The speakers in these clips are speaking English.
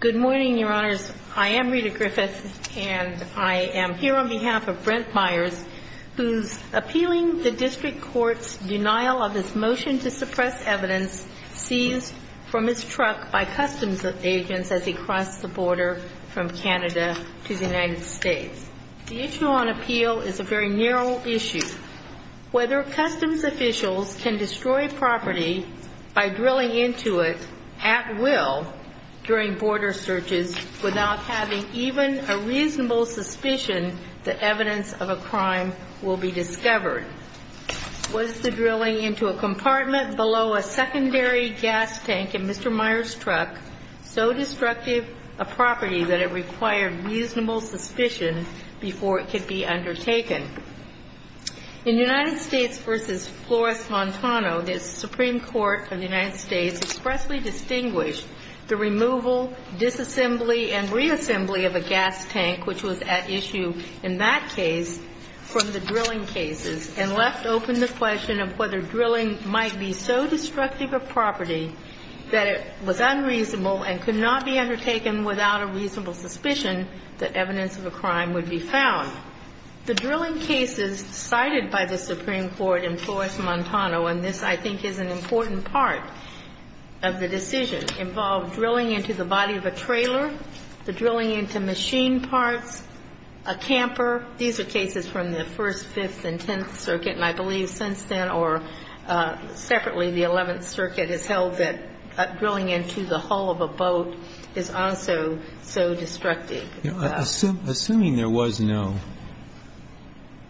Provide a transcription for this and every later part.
Good morning, your honors. I am Rita Griffith, and I am here on behalf of Brent Myers, who's appealing the district court's denial of his motion to suppress evidence seized from his truck by customs agents as he crossed the border from Canada to the United States. The issue on appeal is a very narrow issue. Whether customs officials can destroy property by drilling into it at will during border searches without having even a reasonable suspicion that evidence of a crime will be discovered. Was the drilling into a compartment below a secondary gas tank in Mr. Myers' truck so destructive a property that it required reasonable suspicion before it could be undertaken? In United States v. Flores-Montano, the Supreme Court of the United States expressly distinguished the removal, disassembly, and reassembly of a gas tank, which was at issue in that case, from the drilling cases and left open the question of whether drilling might be so destructive a property that it was unreasonable and could not be undertaken without a reasonable suspicion that evidence of a crime would be found. The drilling cases cited by the Supreme Court in Flores-Montano, and this, I think, is an important part of the decision, involve drilling into the body of a trailer, the drilling into machine parts, a camper. These are cases from the First, Fifth, and Tenth Circuit, and I believe since then, or separately, the Eleventh Circuit has held that drilling into the hull of a boat is also so destructive. Assuming there was no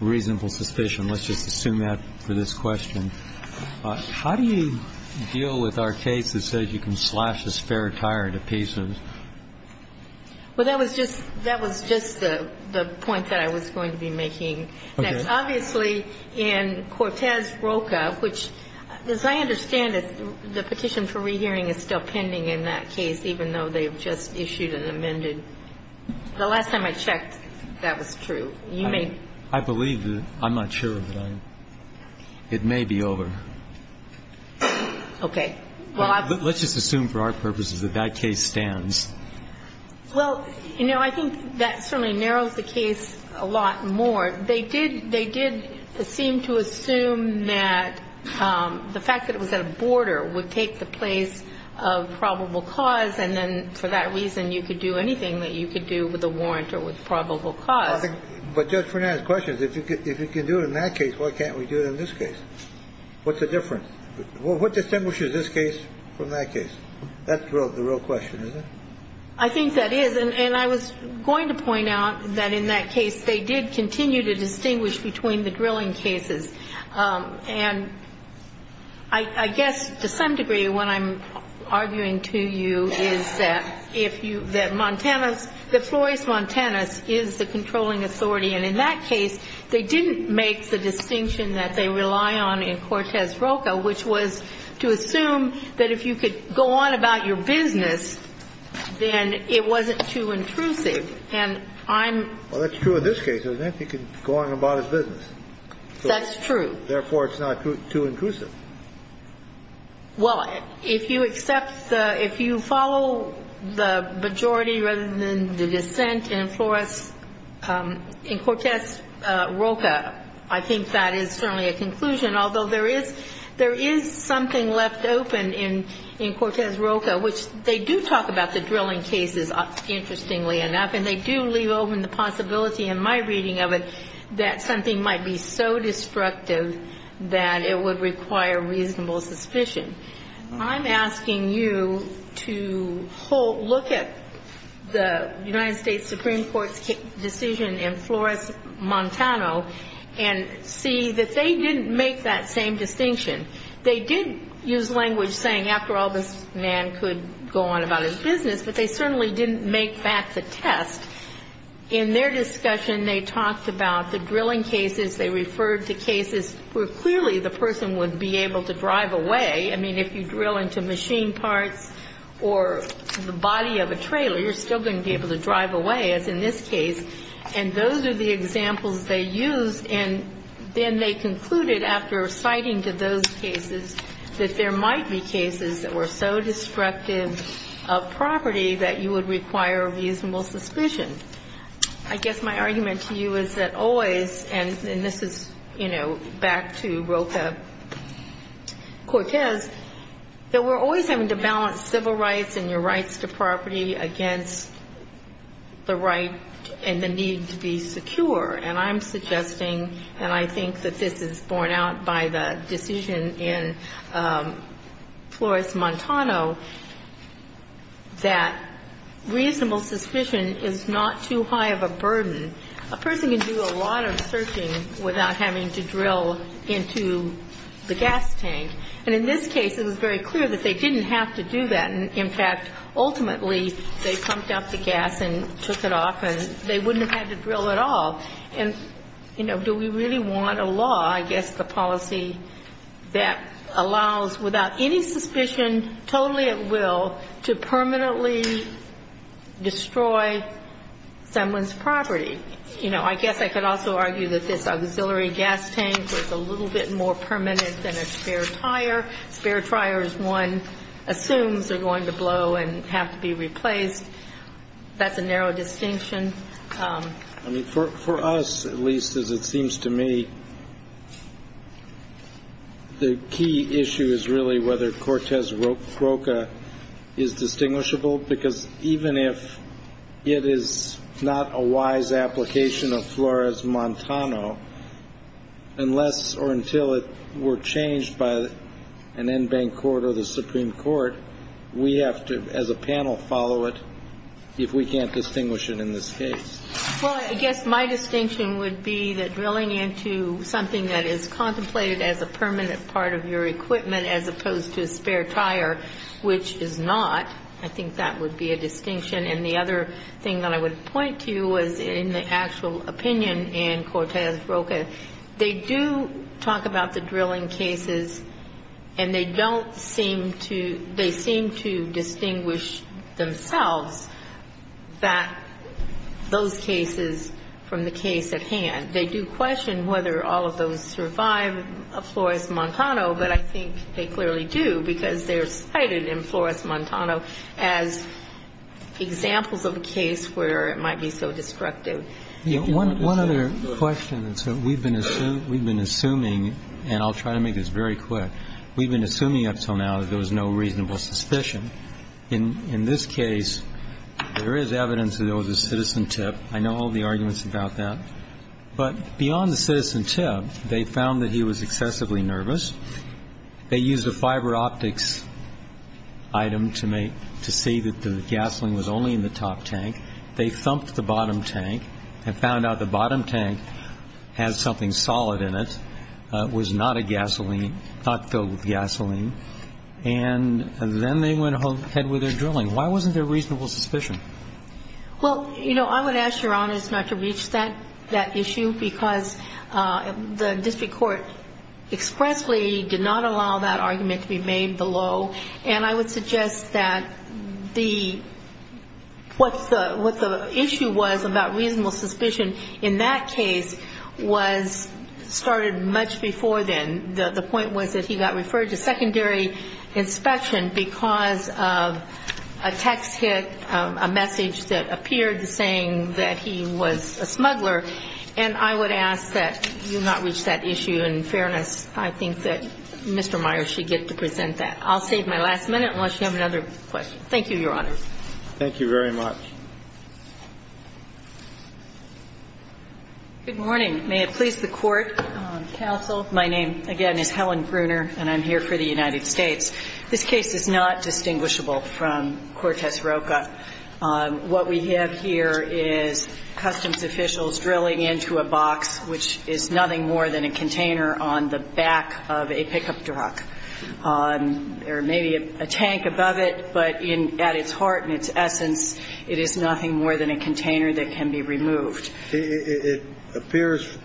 reasonable suspicion, let's just assume that for this question. How do you deal with our case that says you can slash a spare tire to pieces? Well, that was just the point that I was going to be making. Okay. Obviously, in Cortez-Roca, which, as I understand it, the petition for rehearing is still pending in that case, even though they have just issued an amended. The last time I checked, that was true. You may. I believe that. I'm not sure. It may be over. Okay. Let's just assume for our purposes that that case stands. Well, you know, I think that certainly narrows the case a lot more. They did seem to assume that the fact that it was at a border would take the place of probable cause, and then for that reason, you could do anything that you could do with a warrant or with probable cause. But Judge Frenan's question is, if you can do it in that case, why can't we do it in this case? What's the difference? What distinguishes this case from that case? That's the real question, isn't it? I think that is. And I was going to point out that in that case, they did continue to distinguish between the drilling cases. And I guess to some degree what I'm arguing to you is that if you – that Montanus – that Flores-Montanus is the controlling authority. And in that case, they didn't make the distinction that they rely on in Cortez-Roca, which was to assume that if you could go on about your business, then it wasn't too intrusive. And I'm – Well, that's true in this case. He can go on about his business. That's true. Therefore, it's not too intrusive. Well, if you accept the – if you follow the majority rather than the dissent in Flores – in Cortez-Roca, I think that is certainly a conclusion. Although there is – there is something left open in – in Cortez-Roca, which they do talk about the drilling cases, interestingly enough. And they do leave open the possibility in my reading of it that something might be so destructive that it would require reasonable suspicion. I'm asking you to look at the United States Supreme Court's decision in Flores-Montano and see that they didn't make that same distinction. They did use language saying, after all, this man could go on about his business, but they certainly didn't make that the test. In their discussion, they talked about the drilling cases. They referred to cases where clearly the person would be able to drive away. I mean, if you drill into machine parts or the body of a trailer, you're still going to be able to drive away, as in this case. And those are the examples they used. And then they concluded, after citing to those cases, that there might be cases that were so destructive of property that you would require reasonable suspicion. I guess my argument to you is that always, and this is, you know, back to Roca-Cortez, that we're always having to balance civil rights and your rights to property against the right and the need to be secure. And I'm suggesting, and I think that this is borne out by the decision in Flores-Montano, that reasonable suspicion is not too high of a burden. A person can do a lot of searching without having to drill into the gas tank. And in this case, it was very clear that they didn't have to do that. In fact, ultimately, they pumped up the gas and took it off, and they wouldn't have had to drill at all. And, you know, do we really want a law, I guess the policy that allows, without any suspicion, totally at will, to permanently destroy someone's property? You know, I guess I could also argue that this auxiliary gas tank was a little bit more permanent than a spare tire. A spare tire is one assumes they're going to blow and have to be replaced. That's a narrow distinction. I mean, for us, at least as it seems to me, the key issue is really whether Cortez-Roca is distinguishable, because even if it is not a wise application of Flores-Montano, unless or until it were changed by an en banc court or the Supreme Court, we have to, as a panel, follow it if we can't distinguish it in this case. Well, I guess my distinction would be that drilling into something that is contemplated as a permanent part of your equipment as opposed to a spare tire, which is not, I think that would be a distinction. And the other thing that I would point to was in the actual opinion in Cortez-Roca, they do talk about the drilling cases and they don't seem to, they seem to distinguish themselves that those cases from the case at hand. They do question whether all of those survive a Flores-Montano, but I think they clearly do because they're cited in Flores-Montano as examples of a case where it might be so destructive. One other question. We've been assuming, and I'll try to make this very quick. We've been assuming up until now that there was no reasonable suspicion. In this case, there is evidence that there was a citizen tip. I know all the arguments about that. But beyond the citizen tip, they found that he was excessively nervous. They used a fiber optics item to make, to see that the gasoline was only in the top tank. They thumped the bottom tank and found out the bottom tank had something solid in it. It was not a gasoline, not filled with gasoline. And then they went ahead with their drilling. Why wasn't there reasonable suspicion? Well, you know, I would ask Your Honor not to reach that issue because the district court expressly did not allow that argument to be made below. And I would suggest that what the issue was about reasonable suspicion in that case was started much before then. The point was that he got referred to secondary inspection because of a text hit, a message that appeared saying that he was a smuggler. And I would ask that you not reach that issue. In fairness, I think that Mr. Myers should get to present that. I'll save my last minute unless you have another question. Thank you, Your Honor. Thank you very much. Good morning. May it please the Court, counsel. My name, again, is Helen Bruner, and I'm here for the United States. This case is not distinguishable from Cortez Roca. What we have here is customs officials drilling into a box which is nothing more than a container on the back of a pickup truck. There may be a tank above it, but at its heart and its essence, it is nothing more than a container that can be removed. It appears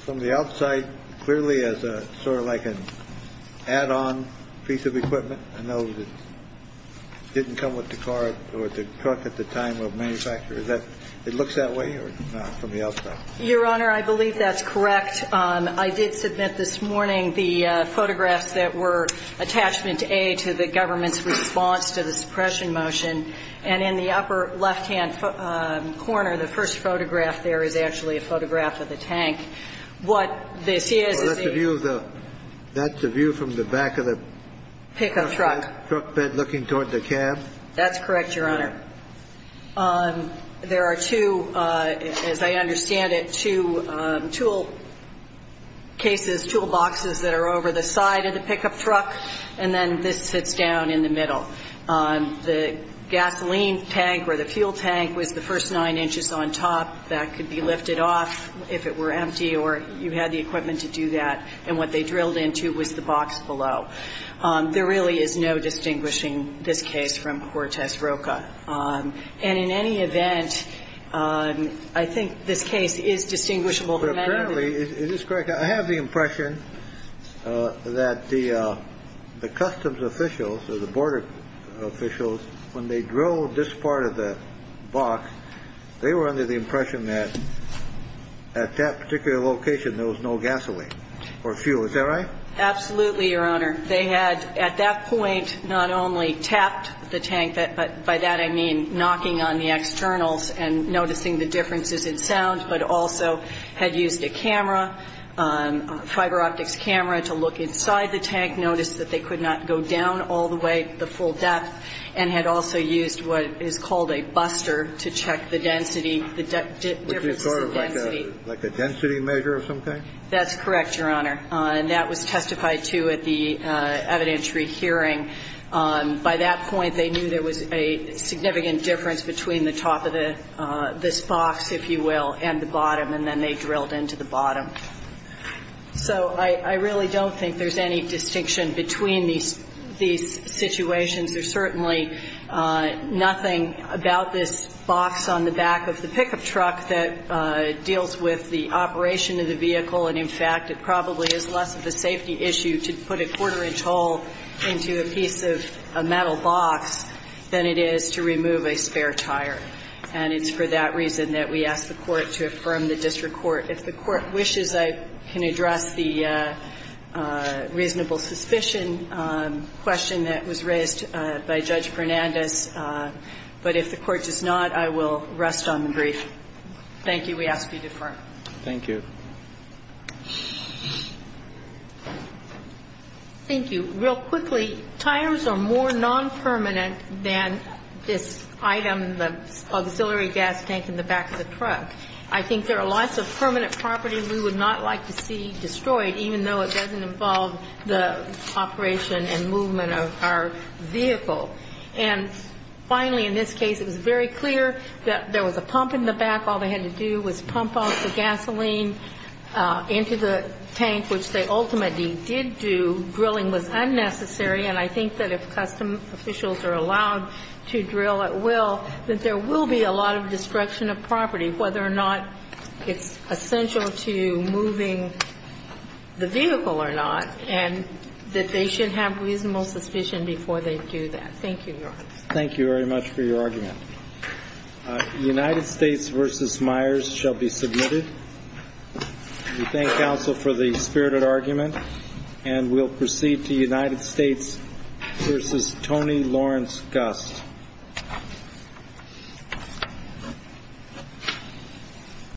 from the outside clearly as a sort of like an add-on piece of equipment. I know it didn't come with the car or the truck at the time of manufacture. It looks that way or not from the outside? Your Honor, I believe that's correct. I did submit this morning the photographs that were attachment A to the government's response to the suppression motion. And in the upper left-hand corner, the first photograph there is actually a photograph of the tank. What this is is the ---- Well, that's the view of the ---- that's the view from the back of the ---- Pickup truck. ---- truck bed looking toward the cab. That's correct, Your Honor. There are two, as I understand it, two tool cases, tool boxes that are over the side of the pickup truck, and then this sits down in the middle. The gasoline tank or the fuel tank was the first nine inches on top. That could be lifted off if it were empty or you had the equipment to do that. And what they drilled into was the box below. There really is no distinguishing this case from Cortez Roca. And in any event, I think this case is distinguishable from any other. But apparently, is this correct, I have the impression that the customs officials or the border officials, when they drilled this part of the box, they were under the impression that at that particular location there was no gasoline or fuel. Is that right? Absolutely, Your Honor. They had at that point not only tapped the tank, but by that I mean knocking on the externals and noticing the differences in sound, but also had used a camera, fiber optics camera, to look inside the tank, noticed that they could not go down all the way to the full depth, and had also used what is called a buster to check the density, the differences in density. Which is sort of like a density measure of some kind? That's correct, Your Honor. And that was testified to at the evidentiary hearing. By that point, they knew there was a significant difference between the top of this box, if you will, and the bottom, and then they drilled into the bottom. So I really don't think there's any distinction between these situations. There's certainly nothing about this box on the back of the pickup truck that deals with the operation of the vehicle. And, in fact, it probably is less of a safety issue to put a quarter-inch hole into a piece of a metal box than it is to remove a spare tire. And it's for that reason that we ask the Court to affirm the district court. If the Court wishes, I can address the reasonable suspicion question that was raised by Judge Fernandez. But if the Court does not, I will rest on the brief. Thank you. We ask you to affirm. Thank you. Thank you. Real quickly, tires are more non-permanent than this item, the auxiliary gas tank, in the back of the truck. I think there are lots of permanent properties we would not like to see destroyed, even though it doesn't involve the operation and movement of our vehicle. And finally, in this case, it was very clear that there was a pump in the back. All they had to do was pump off the gasoline into the tank, which they ultimately did do. Drilling was unnecessary. And I think that if custom officials are allowed to drill at will, that there will be a lot of destruction of property, whether or not it's essential to moving the vehicle or not, and that they should have reasonable suspicion before they do that. Thank you, Your Honor. Thank you very much for your argument. United States v. Myers shall be submitted. We thank counsel for the spirited argument. And we'll proceed to United States v. Tony Lawrence Gust.